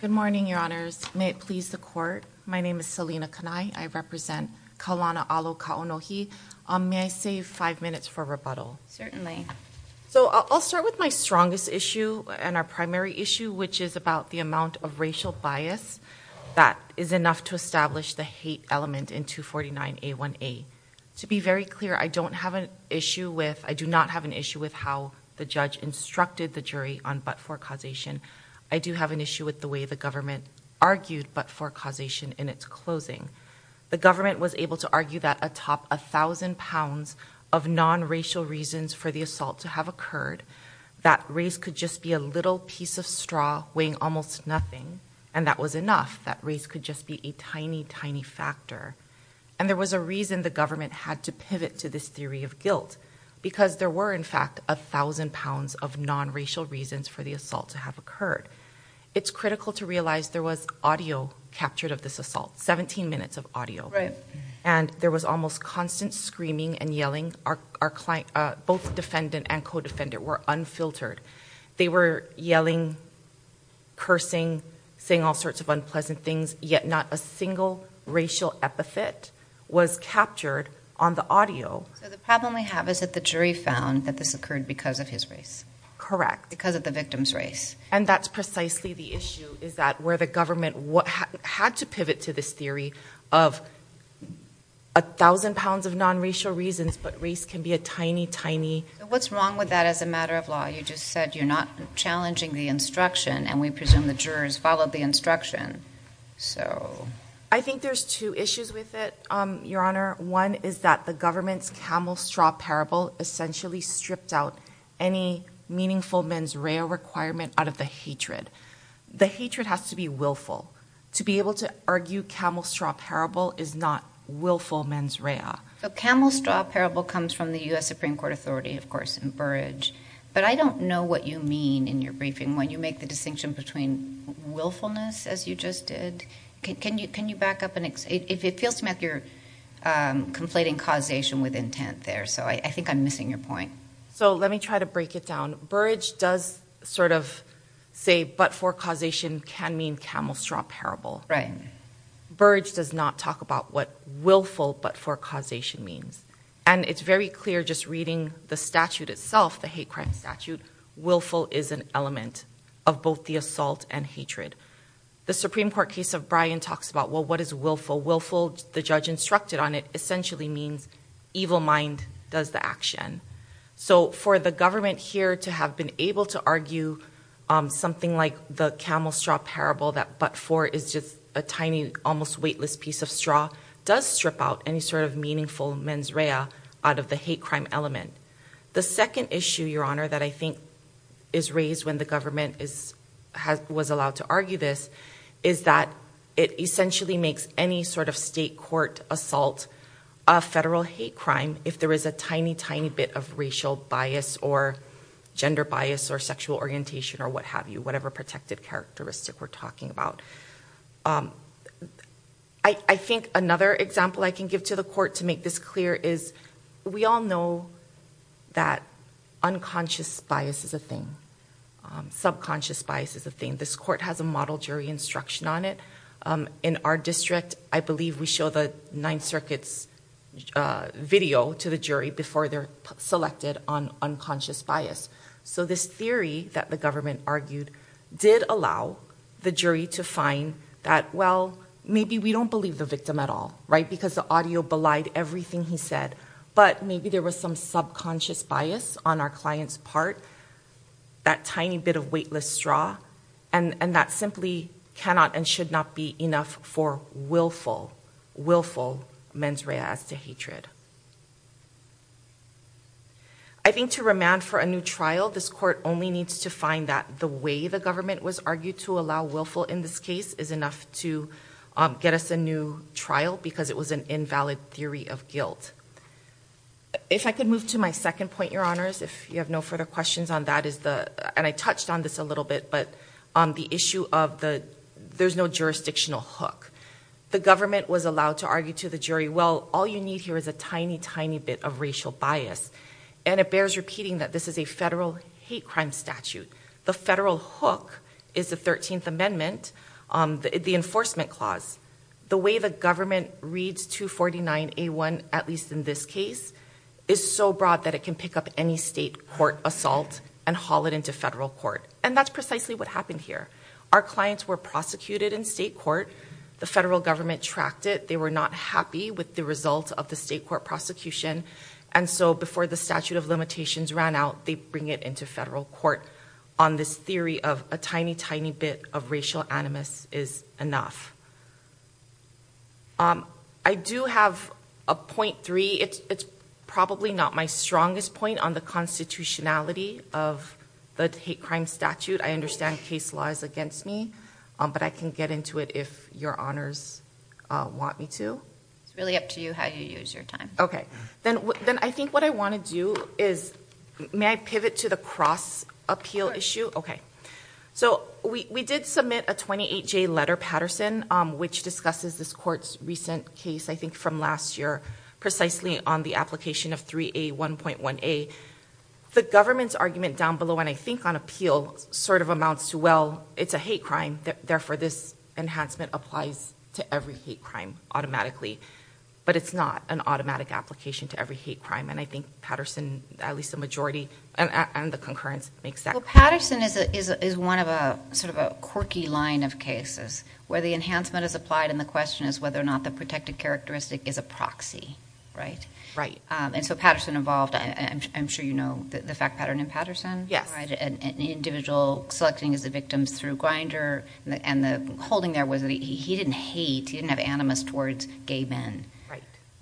Good morning, your honors. May it please the court. My name is Selena Kanai. I represent Kaulana Alo-Kaonohi. May I save five minutes for rebuttal? Certainly. So I'll start with my strongest issue and our primary issue, which is about the amount of racial bias that is enough to establish the hate element in 249A1A. To be very clear, I do not have an issue with how the judge instructed the jury on but-for causation. I do have an issue with the way the government argued but-for causation in its closing. The government was able to argue that atop a thousand pounds of non-racial reasons for the assault to have occurred, that race could just be a little piece of straw weighing almost nothing, and that was enough. That race could just be a tiny, tiny factor. And there was a reason the government had to pivot to this theory of guilt, because there were, in fact, a thousand pounds of non-racial reasons for the assault to have occurred. It's critical to realize there was audio captured of this assault, 17 minutes of audio, and there was almost constant screaming and yelling. Both defendant and co-defendant were unfiltered. They were yelling, cursing, saying all sorts of unpleasant things, yet not a single racial epithet was captured on the audio. So the problem we have is that the jury found that this occurred because of his race. Correct. Because of the victim's race. And that's precisely the issue, is that where the government had to pivot to this theory of a thousand pounds of non-racial reasons, but race can be a tiny, tiny... What's wrong with that as a matter of law? You just said you're not challenging the instruction, and we presume the jurors followed the instruction. I think there's two issues with it, Your Honor. One is that the government's camel-straw parable essentially stripped out any meaningful mens rea requirement out of the hatred. The hatred has to be willful. To be able to argue camel-straw parable is not willful mens rea. The camel-straw parable comes from the U.S. Supreme Court authority, of course, in Burrage, but I don't know what you mean in your briefing when you make the distinction between willfulness, as you just did. Can you back up? It feels to me like you're conflating causation with intent there, so I think I'm missing your point. So let me try to break it down. Burrage does sort of say, but for causation can mean camel-straw parable. Right. Burrage does not talk about what willful but for causation means. And it's very clear just reading the statute itself, the hate crime statute, willful is an element of both the and hatred. The Supreme Court case of Bryan talks about, well, what is willful? Willful, the judge instructed on it, essentially means evil mind does the action. So for the government here to have been able to argue something like the camel-straw parable that but for is just a tiny, almost weightless piece of straw does strip out any sort of meaningful mens rea out of the hate was allowed to argue this is that it essentially makes any sort of state court assault a federal hate crime if there is a tiny, tiny bit of racial bias or gender bias or sexual orientation or what have you, whatever protected characteristic we're talking about. I think another example I can give to the court to make this clear is we all know that unconscious bias is a thing. Subconscious bias is a thing. This court has a model jury instruction on it. In our district, I believe we show the Ninth Circuit's video to the jury before they're selected on unconscious bias. So this theory that the government argued did allow the jury to find that, well, maybe we don't believe the victim at all, right, because the audio belied everything he said, but maybe there was some subconscious bias on our client's part, that tiny bit of weightless straw, and that simply cannot and should not be enough for willful, willful mens rea as to hatred. I think to remand for a new trial, this court only needs to find that the way the government was argued to allow willful in this case is enough to get us a new trial because it was an invalid theory of guilt. If I could move to my second point, Your Honors, if you have no further questions on that is the, and I touched on this a little bit, but on the issue of the there's no jurisdictional hook. The government was allowed to argue to the jury, well, all you need here is a tiny, tiny bit of racial bias, and it bears repeating that this is a federal hate crime statute. The federal hook is the 13th Amendment, the enforcement clause. The way the government reads 249A1, at least in this case, is so broad that it can pick up any state court assault and haul it into federal court, and that's precisely what happened here. Our clients were prosecuted in state court. The federal government tracked it. They were not happy with the result of the state court prosecution, and so before the statute of limitations ran out, they bring it into federal court on this theory of a tiny, tiny bit of racial animus is enough. I do have a point three. It's probably not my strongest point on the constitutionality of the hate crime statute. I understand case law is against me, but I can get into it if Your Honors want me to. It's really up to you how you use your time. Okay, then I think what I want to do is, may I pivot to the cross appeal issue? Okay, so we did submit a 28-J letter, Patterson, which discusses this court's recent case, I think from last year, precisely on the application of 3A1.1a. The government's argument down below, and I think on appeal, sort of amounts to, well, it's a hate crime, therefore this enhancement applies to every hate crime automatically, but it's not an automatic application to every hate crime, and I think Patterson, at least the majority, and the concurrence makes that. Well, Patterson is one of a sort of a quirky line of cases, where the enhancement is applied and the question is whether or not the protected characteristic is a proxy, right? Right. And so Patterson involved, I'm sure you know the fact pattern in Patterson? Yes. An individual selecting as a victim through Grinder, and the holding there he didn't hate, he didn't have animus towards gay men.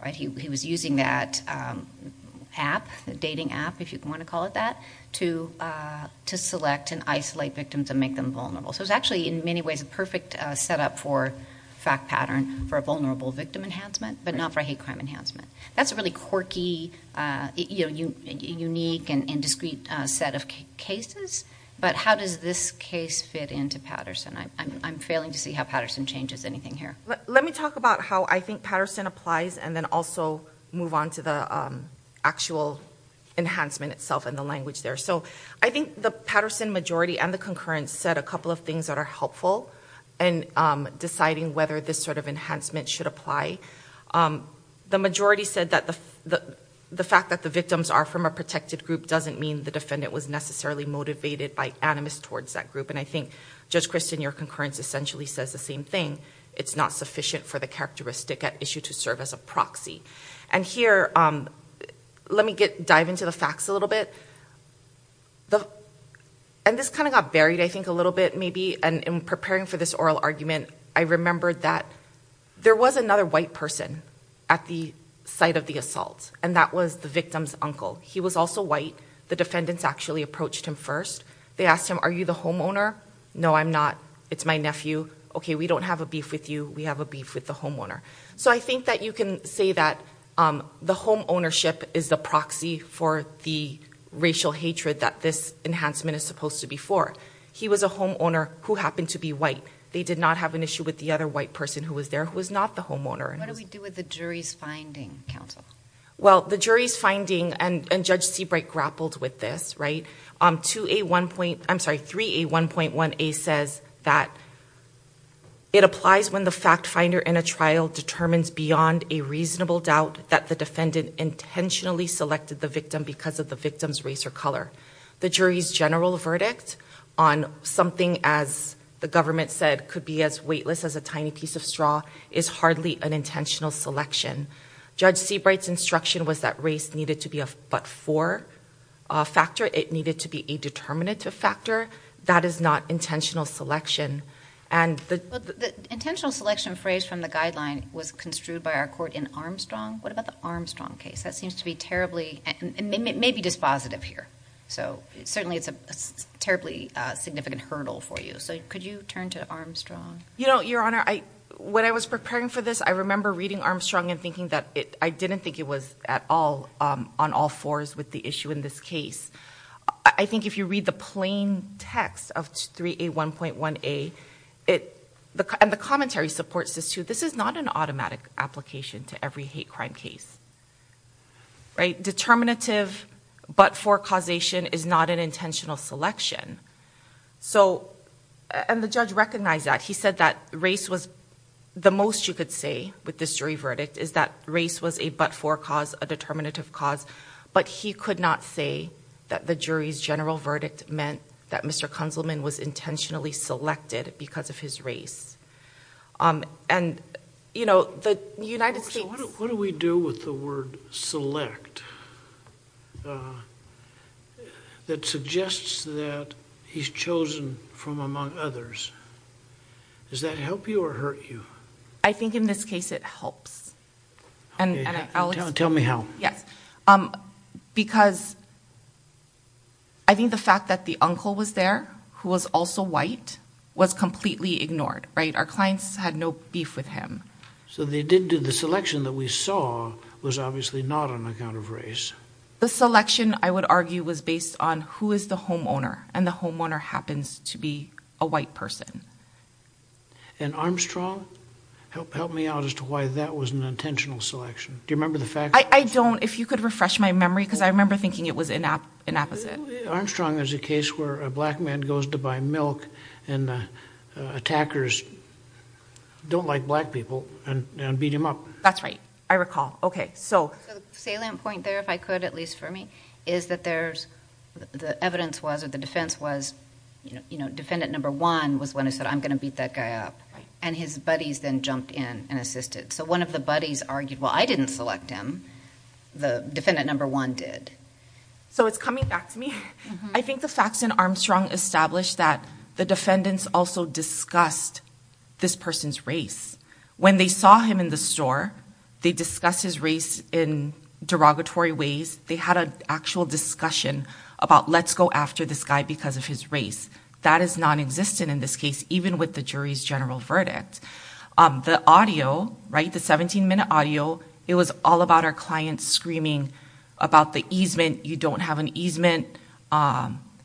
Right. He was using that app, the dating app, if you want to call it that, to select and isolate victims and make them vulnerable. So it's actually, in many ways, a perfect setup for fact pattern for a vulnerable victim enhancement, but not for a hate crime enhancement. That's a really quirky, unique, and discrete set of cases, but how does this case fit into Patterson? I'm failing to see how Patterson changes anything here. Let me talk about how I think Patterson applies and then also move on to the actual enhancement itself and the language there. So I think the Patterson majority and the concurrence said a couple of things that are helpful in deciding whether this sort of enhancement should apply. The majority said that the fact that the victims are from a protected group doesn't mean the defendant was necessarily motivated by animus towards that group. And I think, Judge Kristen, your concurrence essentially says the same thing. It's not sufficient for the characteristic at issue to serve as a proxy. And here, let me dive into the facts a little bit. And this kind of got buried, I think, a little bit maybe. And in preparing for this oral argument, I remembered that there was another white person at the site of the assault, and that was the defendant's actually approached him first. They asked him, are you the homeowner? No, I'm not. It's my nephew. Okay, we don't have a beef with you. We have a beef with the homeowner. So I think that you can say that the home ownership is the proxy for the racial hatred that this enhancement is supposed to be for. He was a homeowner who happened to be white. They did not have an issue with the other white person who was there who was not the homeowner. What do we do with the jury's finding, counsel? Well, the jury's finding is that it applies when the fact finder in a trial determines beyond a reasonable doubt that the defendant intentionally selected the victim because of the victim's race or color. The jury's general verdict on something, as the government said, could be as weightless as a tiny piece of straw is hardly an intentional selection. Judge Seabright's instruction was that race needed to be a but-for factor. It needed to be a determinative factor. That is not intentional selection. But the intentional selection phrase from the guideline was construed by our court in Armstrong. What about the Armstrong case? That seems to be terribly, and it may be dispositive here. So certainly it's a terribly significant hurdle for you. So could you turn to Armstrong? You know, Your Honor, when I was preparing for this, I remember reading Armstrong and thinking that I didn't think it was at all on all fours with the issue in this case. I think if you read the plain text of 3A1.1a, and the commentary supports this too, this is not an automatic application to every hate crime case, right? Determinative but-for causation is not an intentional selection. So, and the judge recognized that. He said that race was the most you could say with this jury is that race was a but-for cause, a determinative cause, but he could not say that the jury's general verdict meant that Mr. Kunzelman was intentionally selected because of his race. And, you know, the United States... So what do we do with the word select that suggests that he's chosen from among others? Does that help you or hurt you? I think in this case it helps. Tell me how. Yes, because I think the fact that the uncle was there, who was also white, was completely ignored, right? Our clients had no beef with him. So they didn't do the selection that we saw was obviously not on account of race. The selection, I would argue, was based on who is the homeowner, and the homeowner happens to be a white person. And Armstrong? Help me out as to why that was an intentional selection. Do you remember the facts? I don't. If you could refresh my memory, because I remember thinking it was inapposite. Armstrong is a case where a black man goes to buy milk, and the attackers don't like black people, and beat him up. That's right. I recall. Okay. So the salient defendant number one was when I said, I'm going to beat that guy up. And his buddies then jumped in and assisted. So one of the buddies argued, well, I didn't select him. The defendant number one did. So it's coming back to me. I think the facts in Armstrong established that the defendants also discussed this person's race. When they saw him in the store, they discussed his race in derogatory ways. They had an actual discussion about, let's go after this guy because of his race. That is non-existent in this case, even with the jury's general verdict. The audio, right, the 17-minute audio, it was all about our client screaming about the easement. You don't have an easement.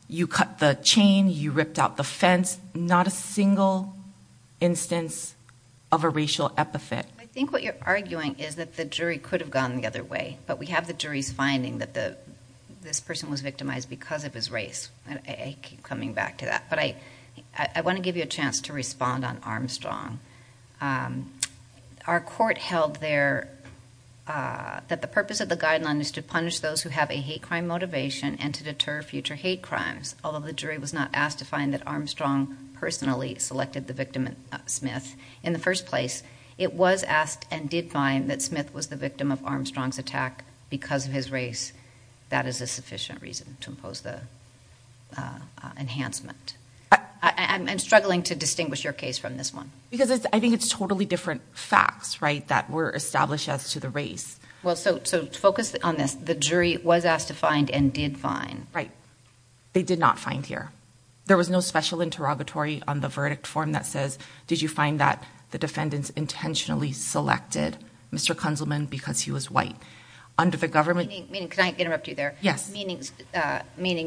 You cut the chain. You ripped out the fence. Not a single instance of a racial epithet. I think what you're arguing is that the jury could have gone the other way. But we have the jury's finding that this person was victimized because of his race. I keep coming back to that. But I want to give you a chance to respond on Armstrong. Our court held there that the purpose of the guideline is to punish those who have a hate crime motivation and to deter future hate crimes. Although the jury was not asked to find that Armstrong personally selected the victim, Smith, in the first place, it was asked and did find that Smith was the victim of Armstrong's attack because of his race. That is a sufficient reason to impose the enhancement. I'm struggling to distinguish your case from this one. Because I think it's totally different facts, right, that were established as to the race. Well, so focus on this. The jury was asked to find and did find. They did not find here. There was no special interrogatory on the verdict form that says, did you find that the defendants intentionally selected Mr. Kunzelman because he was white. Can I interrupt you there? Yes. Meaning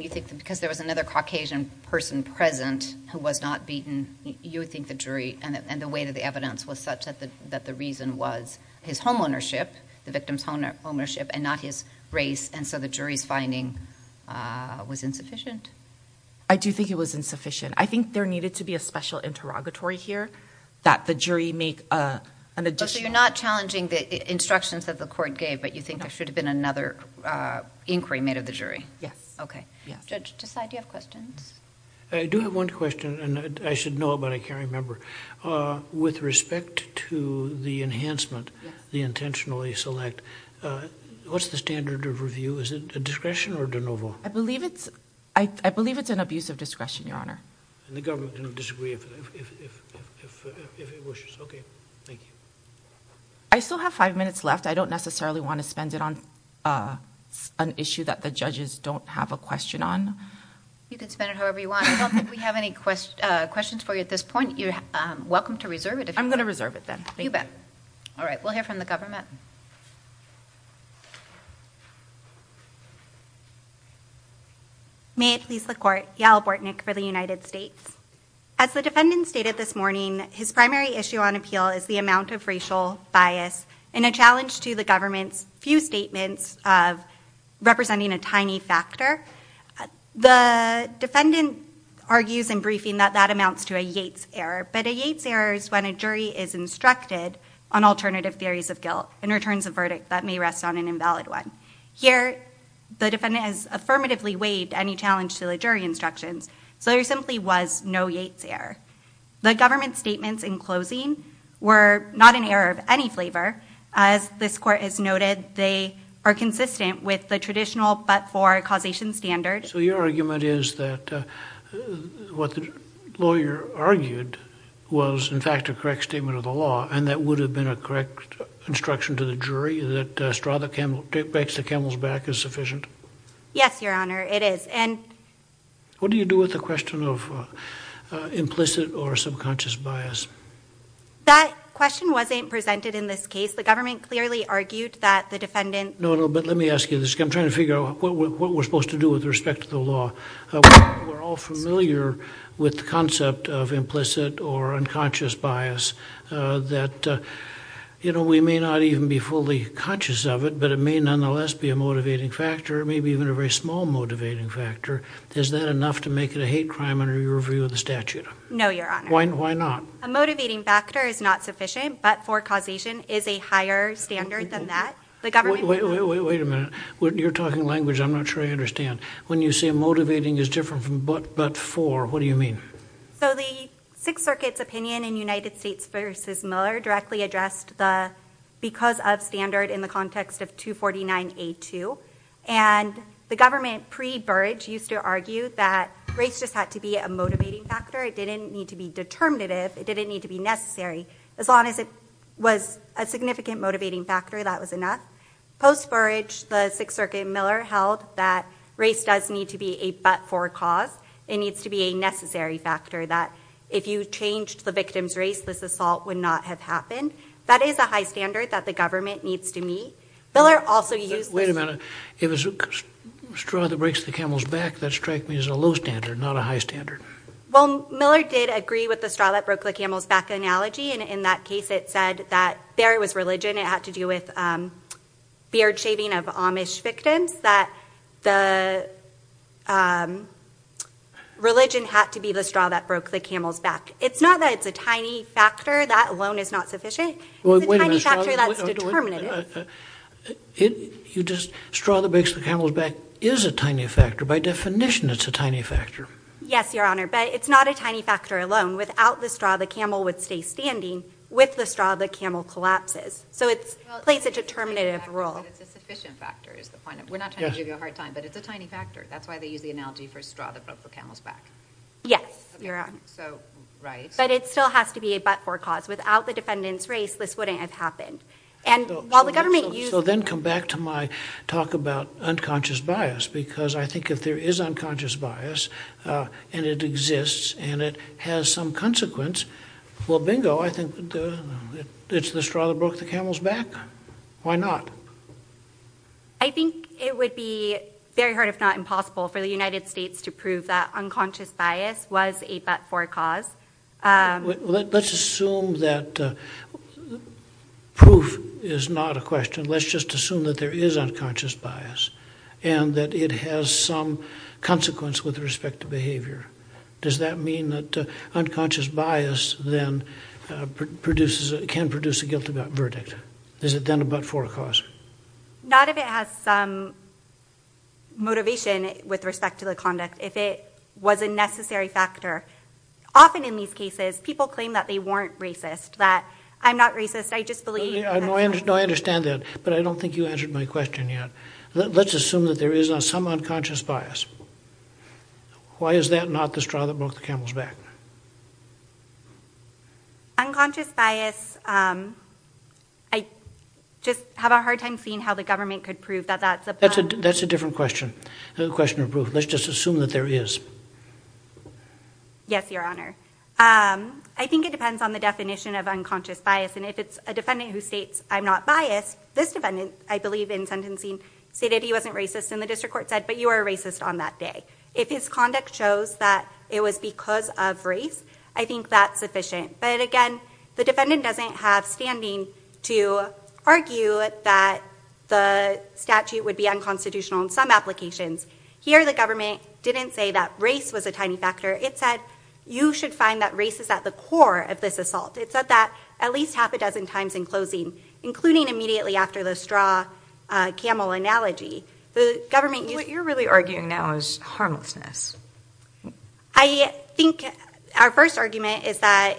you think because there was another Caucasian person present who was not beaten, you would think the jury and the weight of the evidence was such that the reason was his homeownership, the victim's homeownership, and not his race, and so the jury's finding was insufficient? I do think it was insufficient. I think there needed to be a special interrogatory here that the jury make an additional... So you're not challenging the instructions that the court gave, but you think there should have been another inquiry made of the jury. Yes. Okay. Yes. Judge, do you have questions? I do have one question and I should know it, but I can't remember. With respect to the enhancement, the intentionally select, what's the standard of review? Is it a discretion or de novo? I believe it's an abuse of discretion, Your Honor. And the government can disagree if it wishes. Okay. Thank you. I still have five minutes left. I don't necessarily want to spend it on an issue that the judges don't have a question on. You can spend it however you want. I don't think we have any questions for you at this point. Welcome to reserve it if you want. I'm going to reserve it then. Thank you. You bet. All right. We'll hear from the government. May it please the court. Yael Bortnick for the United States. As the defendant stated this morning, his primary issue on appeal is the amount of racial bias and a challenge to the government's few statements of representing a tiny factor. The defendant argues in briefing that that amounts to a Yates error, but a Yates error is when a jury is instructed on alternative theories of guilt and returns a verdict that may rest on an invalid one. Here, the defendant has affirmatively waived any challenge to the jury instructions, so there simply was no Yates error. The government's statements in closing were not an error of any flavor. As this court has noted, they are consistent with the traditional but for causation standard. So your argument is that what the lawyer argued was in fact a correct statement of the law and that would have been a correct instruction to the jury that straw the camel, breaks the camel's back is sufficient? Yes, your honor. It is. And what do you do with the question of implicit or subconscious bias? That question wasn't presented in this case. The government clearly argued that the defendant... Let me ask you this. I'm trying to figure out what we're supposed to do with respect to the law. We're all familiar with the concept of implicit or unconscious bias that, you know, we may not even be fully conscious of it, but it may nonetheless be a motivating factor, maybe even a very small motivating factor. Is that enough to make it a hate crime under your view of the statute? No, your honor. Why not? A motivating factor is not sufficient, but for causation is a higher standard than that. Wait a minute. You're talking language I'm not sure I understand. When you say motivating is different from but for, what do you mean? So the Sixth Circuit's opinion in United States v. Miller directly addressed the because of standard in the context of 249A2, and the government pre-Burge used to argue that race just had to be a motivating factor. It didn't need to be determinative. It didn't need to be necessary as long as it was a significant motivating factor, that was enough. Post-Burge, the Sixth Circuit and Miller held that race does need to be a but for cause. It needs to be a necessary factor that if you changed the victim's race, this assault would not have happened. That is a high standard that the government needs to meet. Miller also used... Wait a minute. If it's a straw that breaks the camel's back, that strike means a low standard, not a high standard. Well, Miller did agree with the straw that broke the camel's back analogy, and in that case, it said that there was religion. It had to do with beard shaving of Amish victims, that the religion had to be the straw that broke the camel's back. It's not that it's a tiny factor. That alone is not sufficient. It's a tiny factor that's determinative. You just... Straw that breaks the camel's back is a tiny factor. By definition, it's a tiny factor. Yes, Your Honor, but it's not a tiny factor alone. Without the straw, the camel would stay standing. With the straw, the camel collapses, so it plays a determinative role. It's a sufficient factor is the point. We're not trying to give you a hard time, but it's a tiny factor. That's why they use the analogy for straw that broke the camel's back. Yes, Your Honor. Right. But it still has to be a but for cause. Without the defendant's race, this wouldn't have happened, and while the government... So then come back to my talk about unconscious bias, because I think if there is unconscious bias, and it exists, and it has some consequence, well, bingo. I think it's the straw that broke the camel's back. Why not? I think it would be very hard, if not impossible, for the United States to prove that unconscious bias was a but for cause. Let's assume that proof is not a question. Let's just assume that there is unconscious bias, and that it has some consequence with respect to behavior. Does that mean that unconscious bias then can produce a guilt verdict? Is it then a but for cause? Not if it has some motivation with respect to the conduct, if it was a necessary factor. Often in these cases, people claim that they weren't racist, that I'm not racist, I just believe... No, I understand that, but I don't think you answered my question yet. Let's assume that there is some unconscious bias. Why is that not the straw that broke the camel's back? Unconscious bias, I just have a hard time seeing how the government could prove that that's a... That's a different question. Another question of proof. Let's just assume that there is. Yes, your honor. I think it depends on the definition of unconscious bias, and if it's a defendant who states, I'm not biased, this defendant, I believe in sentencing, stated he wasn't racist, and the district court said, but you are racist on that day. If his conduct shows that it was because of race, I think that's sufficient. But again, the defendant doesn't have standing to argue that the statute would be unconstitutional in some applications. Here, the government didn't say that race was a tiny factor. It said, you should find that race is at the core of this assault. It said that at least half a dozen times in closing, including immediately after the straw camel analogy. What you're really arguing now is harmlessness. I think our first argument is that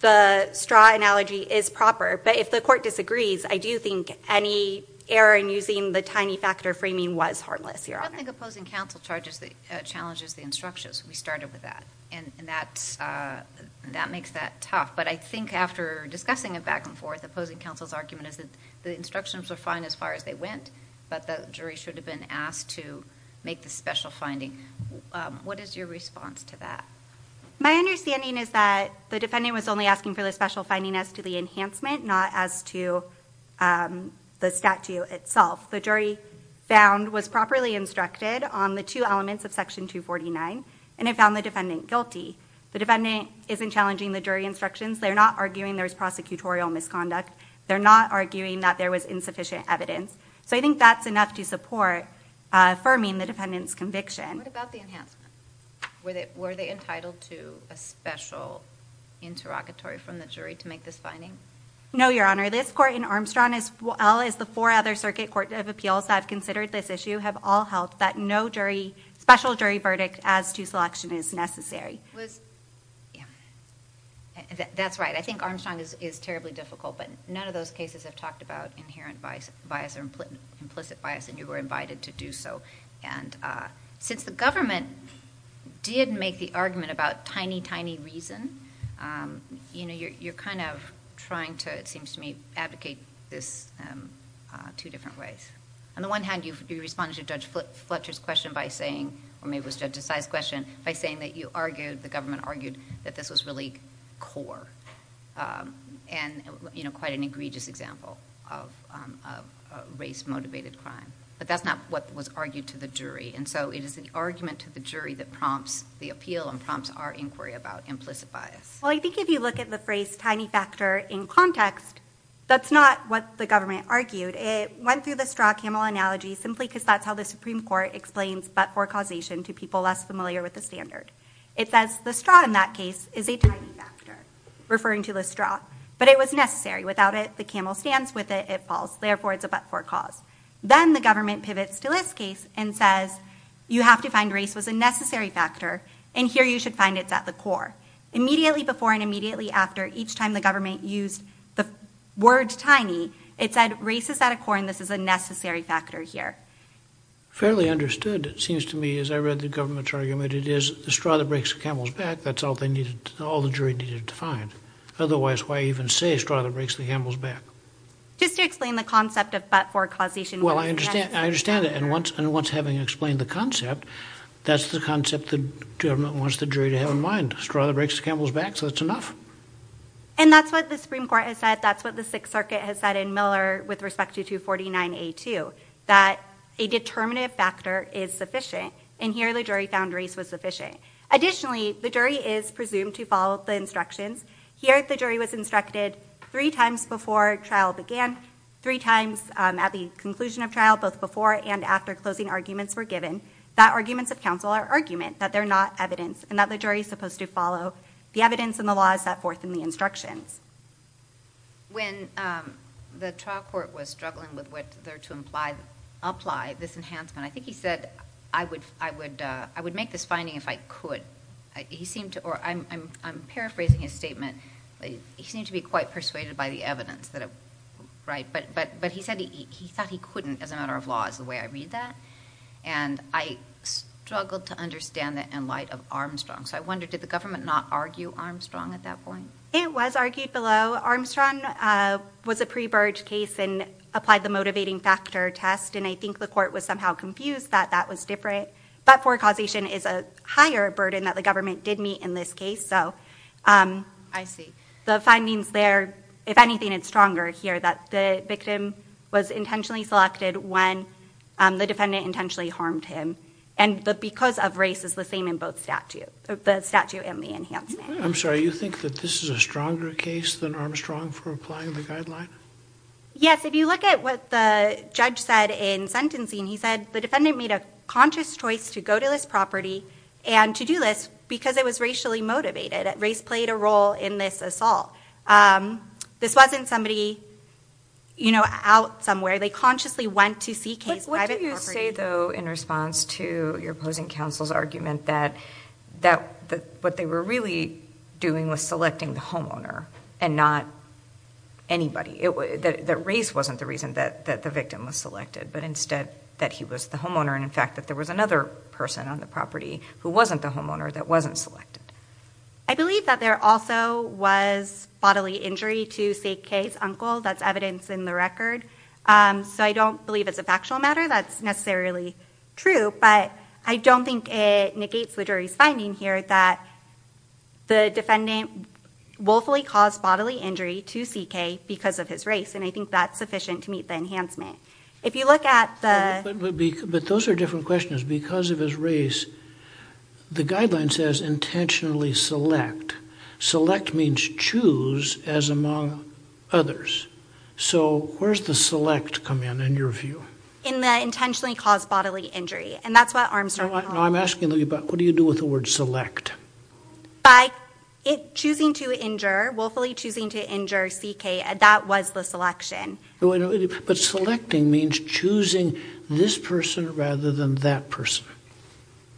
the straw analogy is proper, but if the court disagrees, I do think any error in using the tiny factor framing was harmless, your honor. I don't think opposing counsel challenges the instructions. We started with that, and that makes that tough. But I think after discussing it back and forth, opposing counsel's argument is that the instructions were fine as far as they went, but the jury should have been asked to make the special finding. What is your response to that? My understanding is that the defendant was only asking for the special finding as to the as to the statute itself. The jury was properly instructed on the two elements of section 249, and it found the defendant guilty. The defendant isn't challenging the jury instructions. They're not arguing there was prosecutorial misconduct. They're not arguing that there was insufficient evidence. I think that's enough to support affirming the defendant's conviction. What about the enhancement? Were they entitled to a special interrogatory from the jury to make this finding? No, your honor. This court in Armstrong, as well as the four other circuit court of appeals that have considered this issue, have all held that no special jury verdict as to selection is necessary. That's right. I think Armstrong is terribly difficult, but none of those cases have talked about inherent bias or implicit bias, and you were invited to do so. Since the government did make the argument about tiny, tiny reason, you're trying to, it seems to me, abdicate this two different ways. On the one hand, you responded to Judge Fletcher's question by saying, or maybe it was Judge Desai's question, by saying that the government argued that this was really core and quite an egregious example of race-motivated crime, but that's not what was to the jury, and so it is the argument to the jury that prompts the appeal and prompts our inquiry about implicit bias. Well, I think if you look at the phrase tiny factor in context, that's not what the government argued. It went through the straw camel analogy simply because that's how the Supreme Court explains but-for causation to people less familiar with the standard. It says the straw in that case is a tiny factor, referring to the straw, but it was necessary. Without it, the camel stands. With it, it falls. Therefore, it's a but-for cause. Then the government pivots to this case and says, you have to find race was a necessary factor, and here you should find it's at the core. Immediately before and immediately after, each time the government used the word tiny, it said race is at a core, and this is a necessary factor here. Fairly understood, it seems to me, as I read the government's argument. It is the straw that breaks the camel's back. That's all they needed, all the jury needed to find. Otherwise, why even say the straw that breaks the camel's back? Just to explain the concept of but-for causation. Well, I understand. I understand it, and once having explained the concept, that's the concept the government wants the jury to have in mind. Straw that breaks the camel's back, so that's enough. And that's what the Supreme Court has said. That's what the Sixth Circuit has said in Miller with respect to 249A2, that a determinative factor is sufficient, and here the jury found race was sufficient. Additionally, the jury is presumed to follow the instructions. Here, the jury was instructed three times before trial began, three times at the conclusion of trial, both before and after closing arguments were given, that arguments of counsel are argument, that they're not evidence, and that the jury is supposed to follow the evidence and the laws set forth in the instructions. When the trial court was struggling with whether to apply this enhancement, I think he said, I would make this finding if I could. He seemed to, or I'm paraphrasing his statement, he seemed to be quite persuaded by the evidence that, right, but he said he thought he couldn't as a matter of law is the way I read that, and I struggled to understand that in light of Armstrong. So I wonder, did the government not argue Armstrong at that point? It was argued below. Armstrong was a pre-Burge case and applied the motivating factor test, and I think the court was somehow confused that that was that poor causation is a higher burden that the government did meet in this case, so I see. The findings there, if anything, it's stronger here that the victim was intentionally selected when the defendant intentionally harmed him, and that because of race is the same in both statute, the statute and the enhancement. I'm sorry, you think that this is a stronger case than Armstrong for applying the guideline? Yes, if you look at what the judge said in sentencing, he said the defendant made a conscious choice to go to this property and to do this because it was racially motivated. Race played a role in this assault. This wasn't somebody, you know, out somewhere. They consciously went to seek his private property. What do you say, though, in response to your opposing counsel's argument that what they were really doing was selecting the homeowner and not anybody? That race wasn't the reason that the victim was selected, but instead that he was the homeowner, and in fact that there was another person on the property who wasn't the homeowner that wasn't selected. I believe that there also was bodily injury to CK's uncle. That's evidence in the record, so I don't believe it's a factual matter. That's necessarily true, but I don't think it negates the jury's finding here that the defendant willfully caused bodily injury to CK because of his race, and I think that's sufficient to meet the enhancement. If you look at the... But those are different questions. Because of his race, the guideline says intentionally select. Select means choose as among others, so where's the select come in, in your view? In the intentionally caused bodily injury, and that's what Armstrong... I'm asking you, but what do you do with the word select? By it choosing to injure, willfully choosing to injure CK, that was the selection. But selecting means choosing this person rather than that person.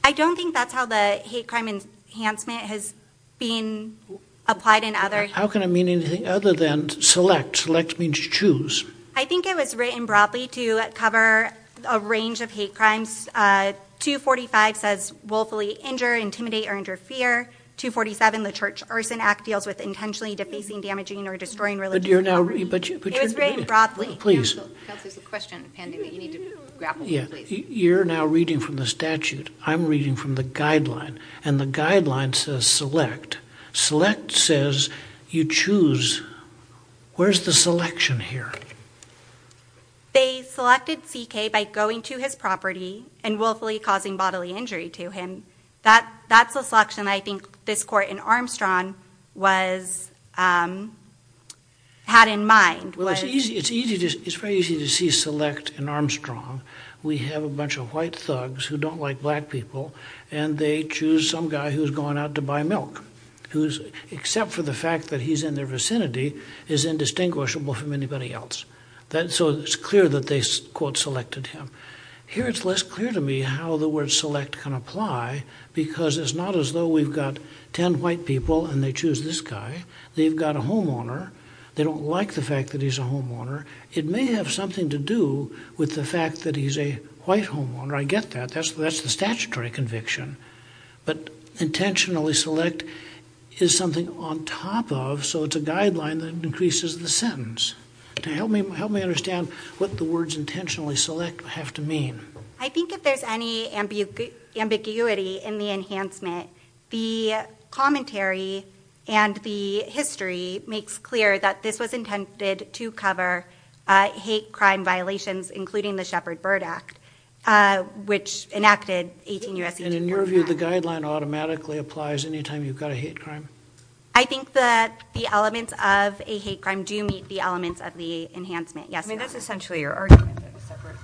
I don't think that's how the hate crime enhancement has been applied in other... How can it mean anything other than select? Select means choose. I think it was written broadly to cover a range of hate crimes. 245 says willfully injure, intimidate, or interfere. 247, the church arson act deals with intentionally defacing, damaging, or destroying religious... But you're now... It was written broadly. Please. Counsel, there's a question pending that you need to grapple with, please. You're now reading from the statute. I'm reading from the guideline, and the guideline says select. Select says you choose. Where's the selection here? They selected CK by going to his property and willfully causing bodily injury to him. That's a selection I think this court in Armstrong had in mind. Well, it's very easy to see select in Armstrong. We have a bunch of white thugs who don't like black people, and they choose some guy who's going out to buy milk, who's, except for the fact that he's in their vicinity, is indistinguishable from anybody else. So it's clear that they quote selected him. Here it's less clear to me how the word select can apply, because it's not as though we've got 10 white people, and they choose this guy. They've got a homeowner. They don't like the fact that he's a homeowner. It may have something to do with the fact that he's a white homeowner. I get that. That's the statutory conviction. But intentionally select is something on top of, so it's a guideline that increases the sentence. Help me understand what the intentionally select have to mean. I think if there's any ambiguity in the enhancement, the commentary and the history makes clear that this was intended to cover hate crime violations, including the Shepard-Byrd Act, which enacted 18 U.S.... And in your view, the guideline automatically applies anytime you've got a hate crime? I think that the elements of a hate crime do meet the elements of the enhancement. Yes. I mean, that's essentially your argument, that a separate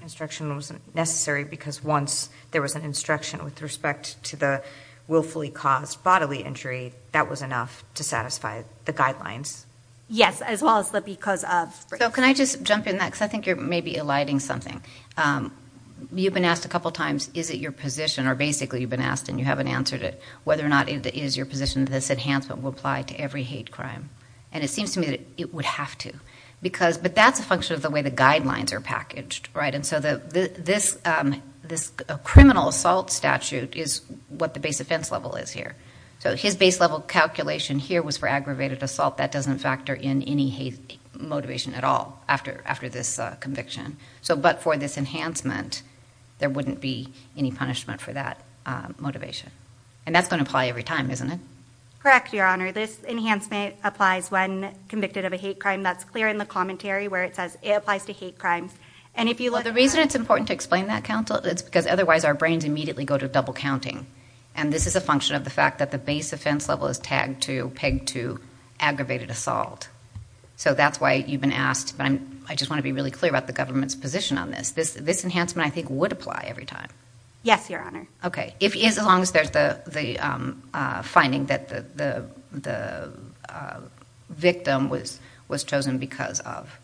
instruction wasn't necessary, because once there was an instruction with respect to the willfully caused bodily injury, that was enough to satisfy the guidelines. Yes, as well as the because of. So can I just jump in that, because I think you're maybe eliding something. You've been asked a couple of times, is it your position, or basically you've been asked and you haven't answered it, whether or not it is your position that this enhancement will apply to every hate crime? And it seems to me that it would have to. But that's a function of the way the guidelines are packaged, right? And so this criminal assault statute is what the base offense level is here. So his base level calculation here was for aggravated assault. That doesn't factor in any hate motivation at all after this conviction. But for this enhancement, there wouldn't be any punishment for that motivation. And that's going to apply every time, isn't it? Correct, Your Honor. This enhancement applies when convicted of a hate crime. That's clear in the commentary where it says it applies to hate crimes. And if you look... The reason it's important to explain that, counsel, it's because otherwise our brains immediately go to double counting. And this is a function of the fact that the base offense level is tagged to, pegged to, aggravated assault. So that's why you've been asked. But I just want to be really clear about the government's position on this. This enhancement, I think, would apply every time. Yes, Your Honor. Okay. As long as there's the finding that the victim was chosen because of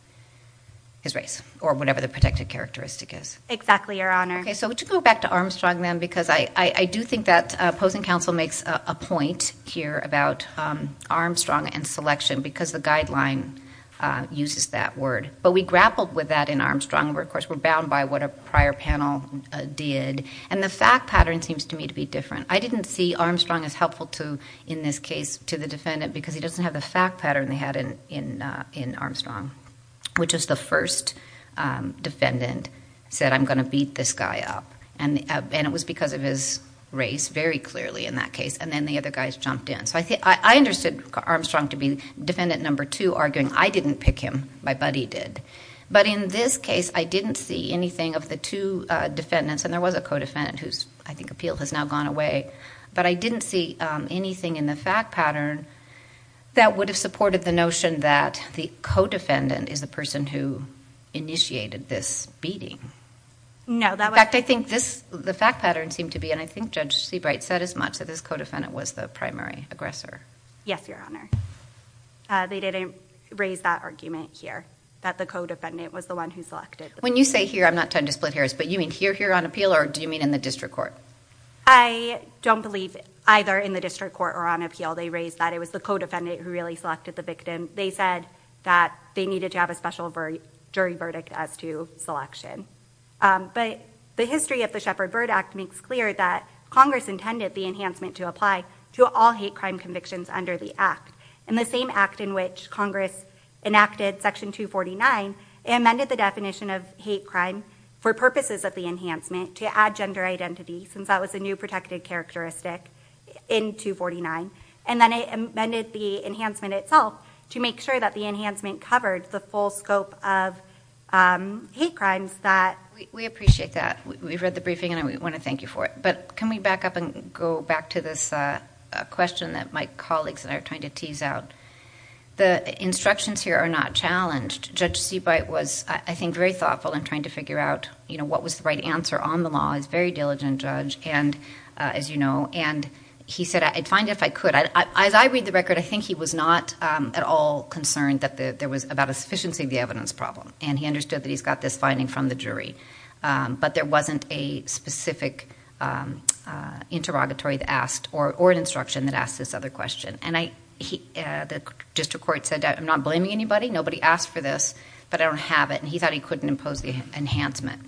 his race, or whatever the protected characteristic is. Exactly, Your Honor. Okay. So to go back to Armstrong then, because I do think that opposing counsel makes a point here about Armstrong and selection, because the guideline uses that word. But we grappled with that in the case. I didn't see Armstrong as helpful in this case to the defendant because he doesn't have the fact pattern they had in Armstrong, which is the first defendant said, I'm going to beat this guy up. And it was because of his race, very clearly in that case. And then the other guys jumped in. So I understood Armstrong to be defendant number two, arguing I didn't pick him. My buddy did. But in this case, I didn't see anything of the two defendants. And there appeal has now gone away. But I didn't see anything in the fact pattern that would have supported the notion that the co-defendant is the person who initiated this beating. No. In fact, I think the fact pattern seemed to be, and I think Judge Seabright said as much, that this co-defendant was the primary aggressor. Yes, Your Honor. They didn't raise that argument here, that the co-defendant was the one who selected. When you say here, I'm not trying to split hairs, but you mean here on appeal, or do you mean in the district court? I don't believe either in the district court or on appeal. They raised that it was the co-defendant who really selected the victim. They said that they needed to have a special jury verdict as to selection. But the history of the Shepard-Byrd Act makes clear that Congress intended the enhancement to apply to all hate crime convictions under the Act. In the same Act in which Congress enacted Section 249, it amended the definition of hate crime for purposes of the enhancement to add gender identity, since that was a new protected characteristic in 249. And then it amended the enhancement itself to make sure that the enhancement covered the full scope of hate crimes that- We appreciate that. We've read the briefing and we want to thank you for it. But can we back up and go back to this question that my colleagues and I are trying to tease out? The instructions here are not challenged. Judge Seabright was, I think, very thoughtful in trying to figure out what was the right answer on the law. He's a very diligent judge, as you know. And he said, I'd find it if I could. As I read the record, I think he was not at all concerned that there was about a sufficiency of the evidence problem. And he understood that he's got this finding from the jury. But there wasn't a specific interrogatory asked or an instruction that asked this other question. And the district court said, I'm not blaming anybody. Nobody asked for this. But I don't have it. And he thought he couldn't impose the enhancement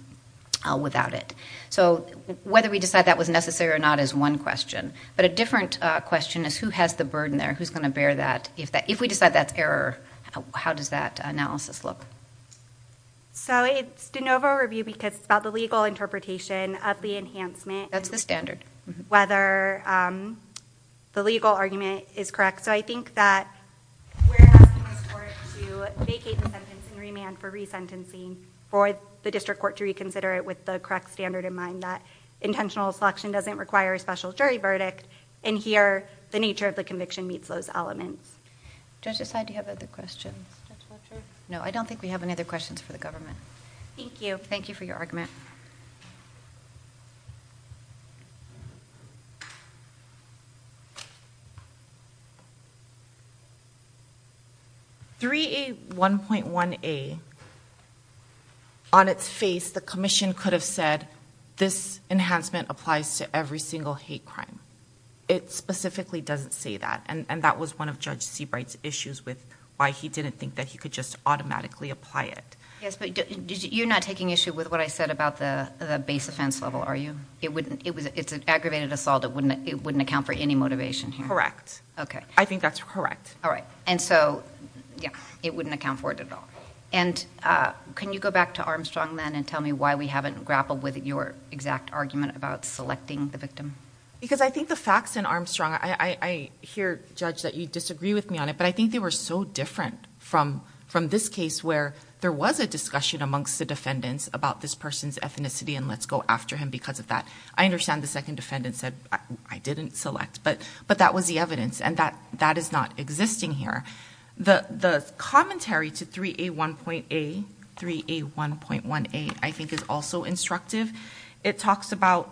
without it. So whether we decide that was necessary or not is one question. But a different question is, who has the burden there? Who's going to bear that? If we decide that's error, how does that analysis look? So it's de novo review because it's about the legal interpretation of the enhancement. That's the standard. Whether the legal argument is correct. So I think that we're asking this court to vacate the sentencing remand for resentencing for the district court to reconsider it with the correct standard in mind that intentional selection doesn't require a special jury verdict. And here, the nature of the conviction meets those elements. Do I decide to have other questions, Judge Fletcher? No, I don't think we have any other questions for the government. Thank you. Thank you for your argument. 3A1.1a, on its face, the commission could have said, this enhancement applies to every single hate crime. It specifically doesn't say that. And that was one of Judge Seabright's issues with why he didn't think that he could just automatically apply it. Yes, but you're not taking issue with what I said about the base offense level, are you? It's an aggravated assault. It wouldn't account for any motivation here. Correct. I think that's correct. All right. And so, yeah, it wouldn't account for it at all. And can you go back to Armstrong then and tell me why we haven't grappled with your exact argument about selecting the victim? Because I think the facts in Armstrong, I hear, Judge, that you disagree with me on it, but I think they were so different from this case where there was a discussion amongst the defendants about this person's ethnicity and let's go after him because of that. I understand the second defendant said, I didn't select, but that was the evidence. And that is not existing here. The commentary to 3A1.1a, I think, is also instructive. It talks about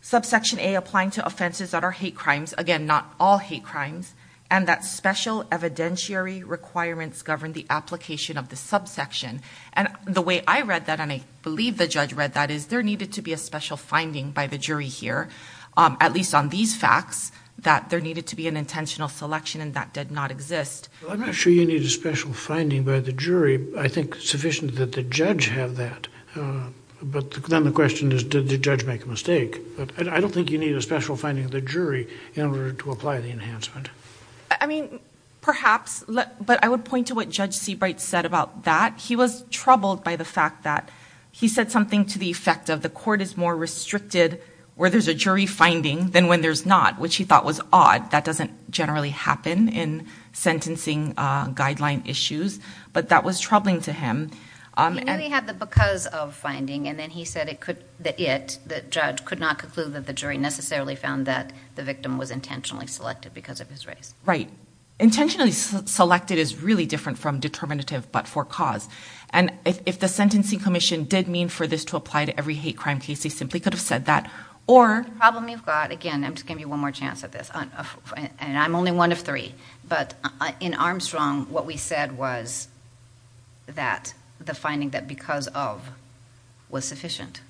subsection A applying to offenses that are hate crimes. Again, not all hate crimes. And that special evidentiary requirements govern the application of the subsection. And the way I read that, and I believe the judge read that, is there needed to be a special finding by the jury here, at least on these facts, that there needed to be an intentional selection and that did not exist. I'm not sure you need a special finding by the jury. I think it's sufficient that the judge have that. But then the question is, did the judge make a mistake? But I don't think you need a special finding of the jury in order to apply the enhancement. I mean, perhaps, but I would point to what Judge Seabright said about that. He was troubled by the fact that he said something to the effect of, the court is more restricted where there's a jury finding than when there's not, which he thought was odd. That doesn't generally happen in sentencing guideline issues. But that was troubling to him. He knew he had the because of finding, and then he said that it, the judge, could not conclude that the jury necessarily found that the victim was intentionally selected because of his race. Right. Intentionally selected is really different from determinative, but for cause. And if the sentencing commission did mean for this to apply to every hate crime case, they simply could have said that, or- Problem you've got, again, I'm just going to give you one more chance at this. And I'm only one of three. But in Armstrong, what we said was that the finding that because of was sufficient.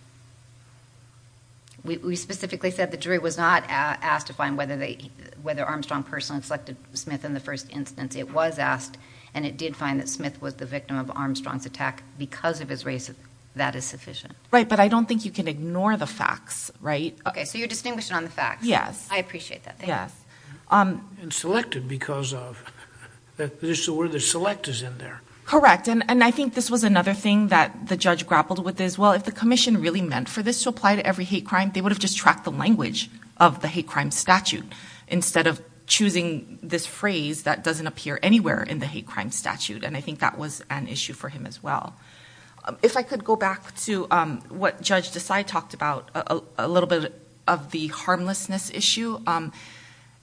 We specifically said the jury was not asked to find whether Armstrong personally selected Smith in the first instance. It was asked, and it did find that Smith was the victim of Armstrong's attack because of his race. That is sufficient. But I don't think you can ignore the facts, right? Okay. So you're distinguishing on the facts. Yes. I appreciate that. Yes. And selected because of, this is where the select is in there. Correct. And I think this was another thing that the judge grappled with as well. If the commission really meant for this to apply to every hate crime, they would have just tracked the language of the hate crime statute instead of choosing this phrase that doesn't appear anywhere in the hate crime statute. And I think that was an issue for him as well. If I could go back to what Judge Desai talked about, a little bit of the harmlessness issue.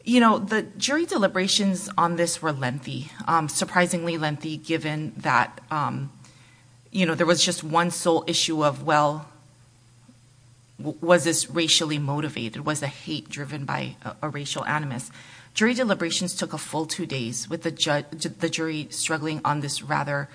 You know, the jury deliberations on this were lengthy, surprisingly lengthy, given that there was just one sole issue of, well, was this racially motivated? Was the hate driven by a racial animus? Jury deliberations took a full two days with the judge, the jury struggling on this rather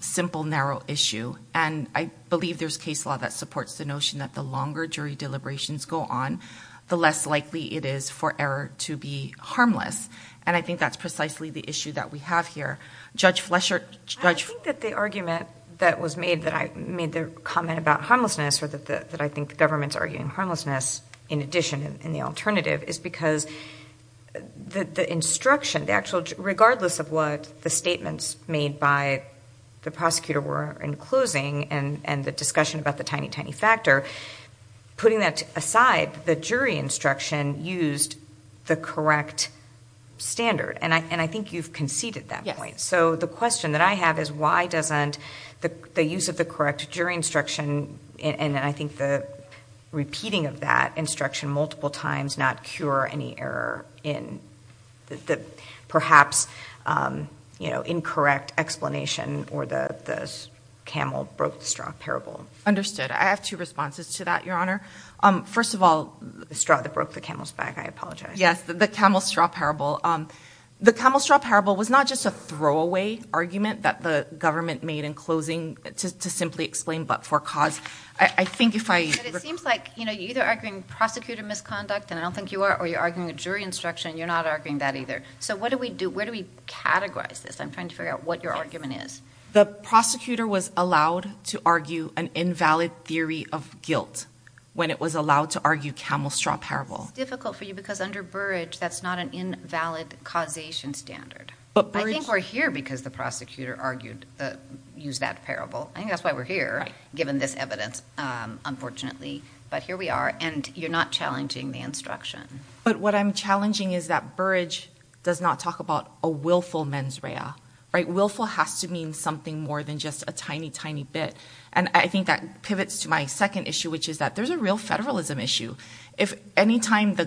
simple, narrow issue. And I believe there's case law that supports the notion that the longer jury deliberations go on, the less likely it is for error to be harmless. And I think that's precisely the issue that we have here. Judge Flesher. I think that the argument that was made, that I made the comment about harmlessness or that I think the government's arguing harmlessness in addition, in the alternative, is because the instruction, the actual, regardless of what the statements made by the prosecutor were in closing and the discussion about the tiny, tiny factor, putting that aside, the jury instruction used the correct standard. And I think you've conceded that point. So the question that I have is why doesn't the use of the correct jury instruction and I think the repeating of that instruction multiple times not cure any error in the perhaps incorrect explanation or the camel broke the straw parable. Understood. I have two responses to that, Your Honor. First of all, the straw that broke the camel's back. I apologize. Yes, the camel straw parable. The camel straw parable was not just a throwaway argument that the government made in closing to simply explain but for cause. I think if I- But it seems like you're either arguing prosecutor misconduct, and I don't think you are, or you're arguing a jury instruction. You're not arguing that either. So what do we do? Where do we categorize this? I'm trying to figure out what your argument is. The prosecutor was allowed to argue an invalid theory of guilt when it was allowed to argue camel straw parable. It's difficult for you because under Burrage, that's not an invalid causation standard. But Burrage- I think that's why we're here, given this evidence, unfortunately. But here we are. And you're not challenging the instruction. But what I'm challenging is that Burrage does not talk about a willful mens rea. Right? Willful has to mean something more than just a tiny, tiny bit. And I think that pivots to my second issue, which is that there's a real federalism issue. If any time the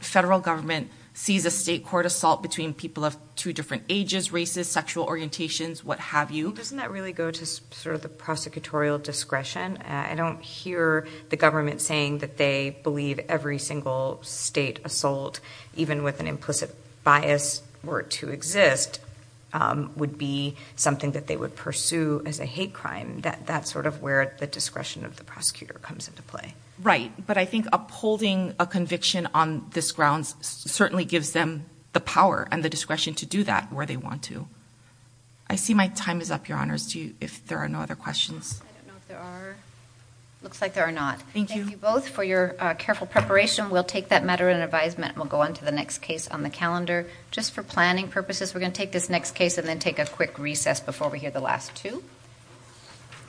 federal government sees a state court assault between people of two different ages, races, sexual orientations, what have you- Doesn't that really go to sort of the prosecutorial discretion? I don't hear the government saying that they believe every single state assault, even with an implicit bias, were to exist, would be something that they would pursue as a hate crime. That's sort of where the discretion of the prosecutor comes into play. Right. But I think upholding a conviction on this grounds certainly gives them the power and the discretion to do that where they want to. I see my time is up, Your Honors. If there are no other questions. I don't know if there are. Looks like there are not. Thank you both for your careful preparation. We'll take that matter in advisement. We'll go on to the next case on the calendar. Just for planning purposes, we're going to take this next case and then take a quick recess before we hear the last two.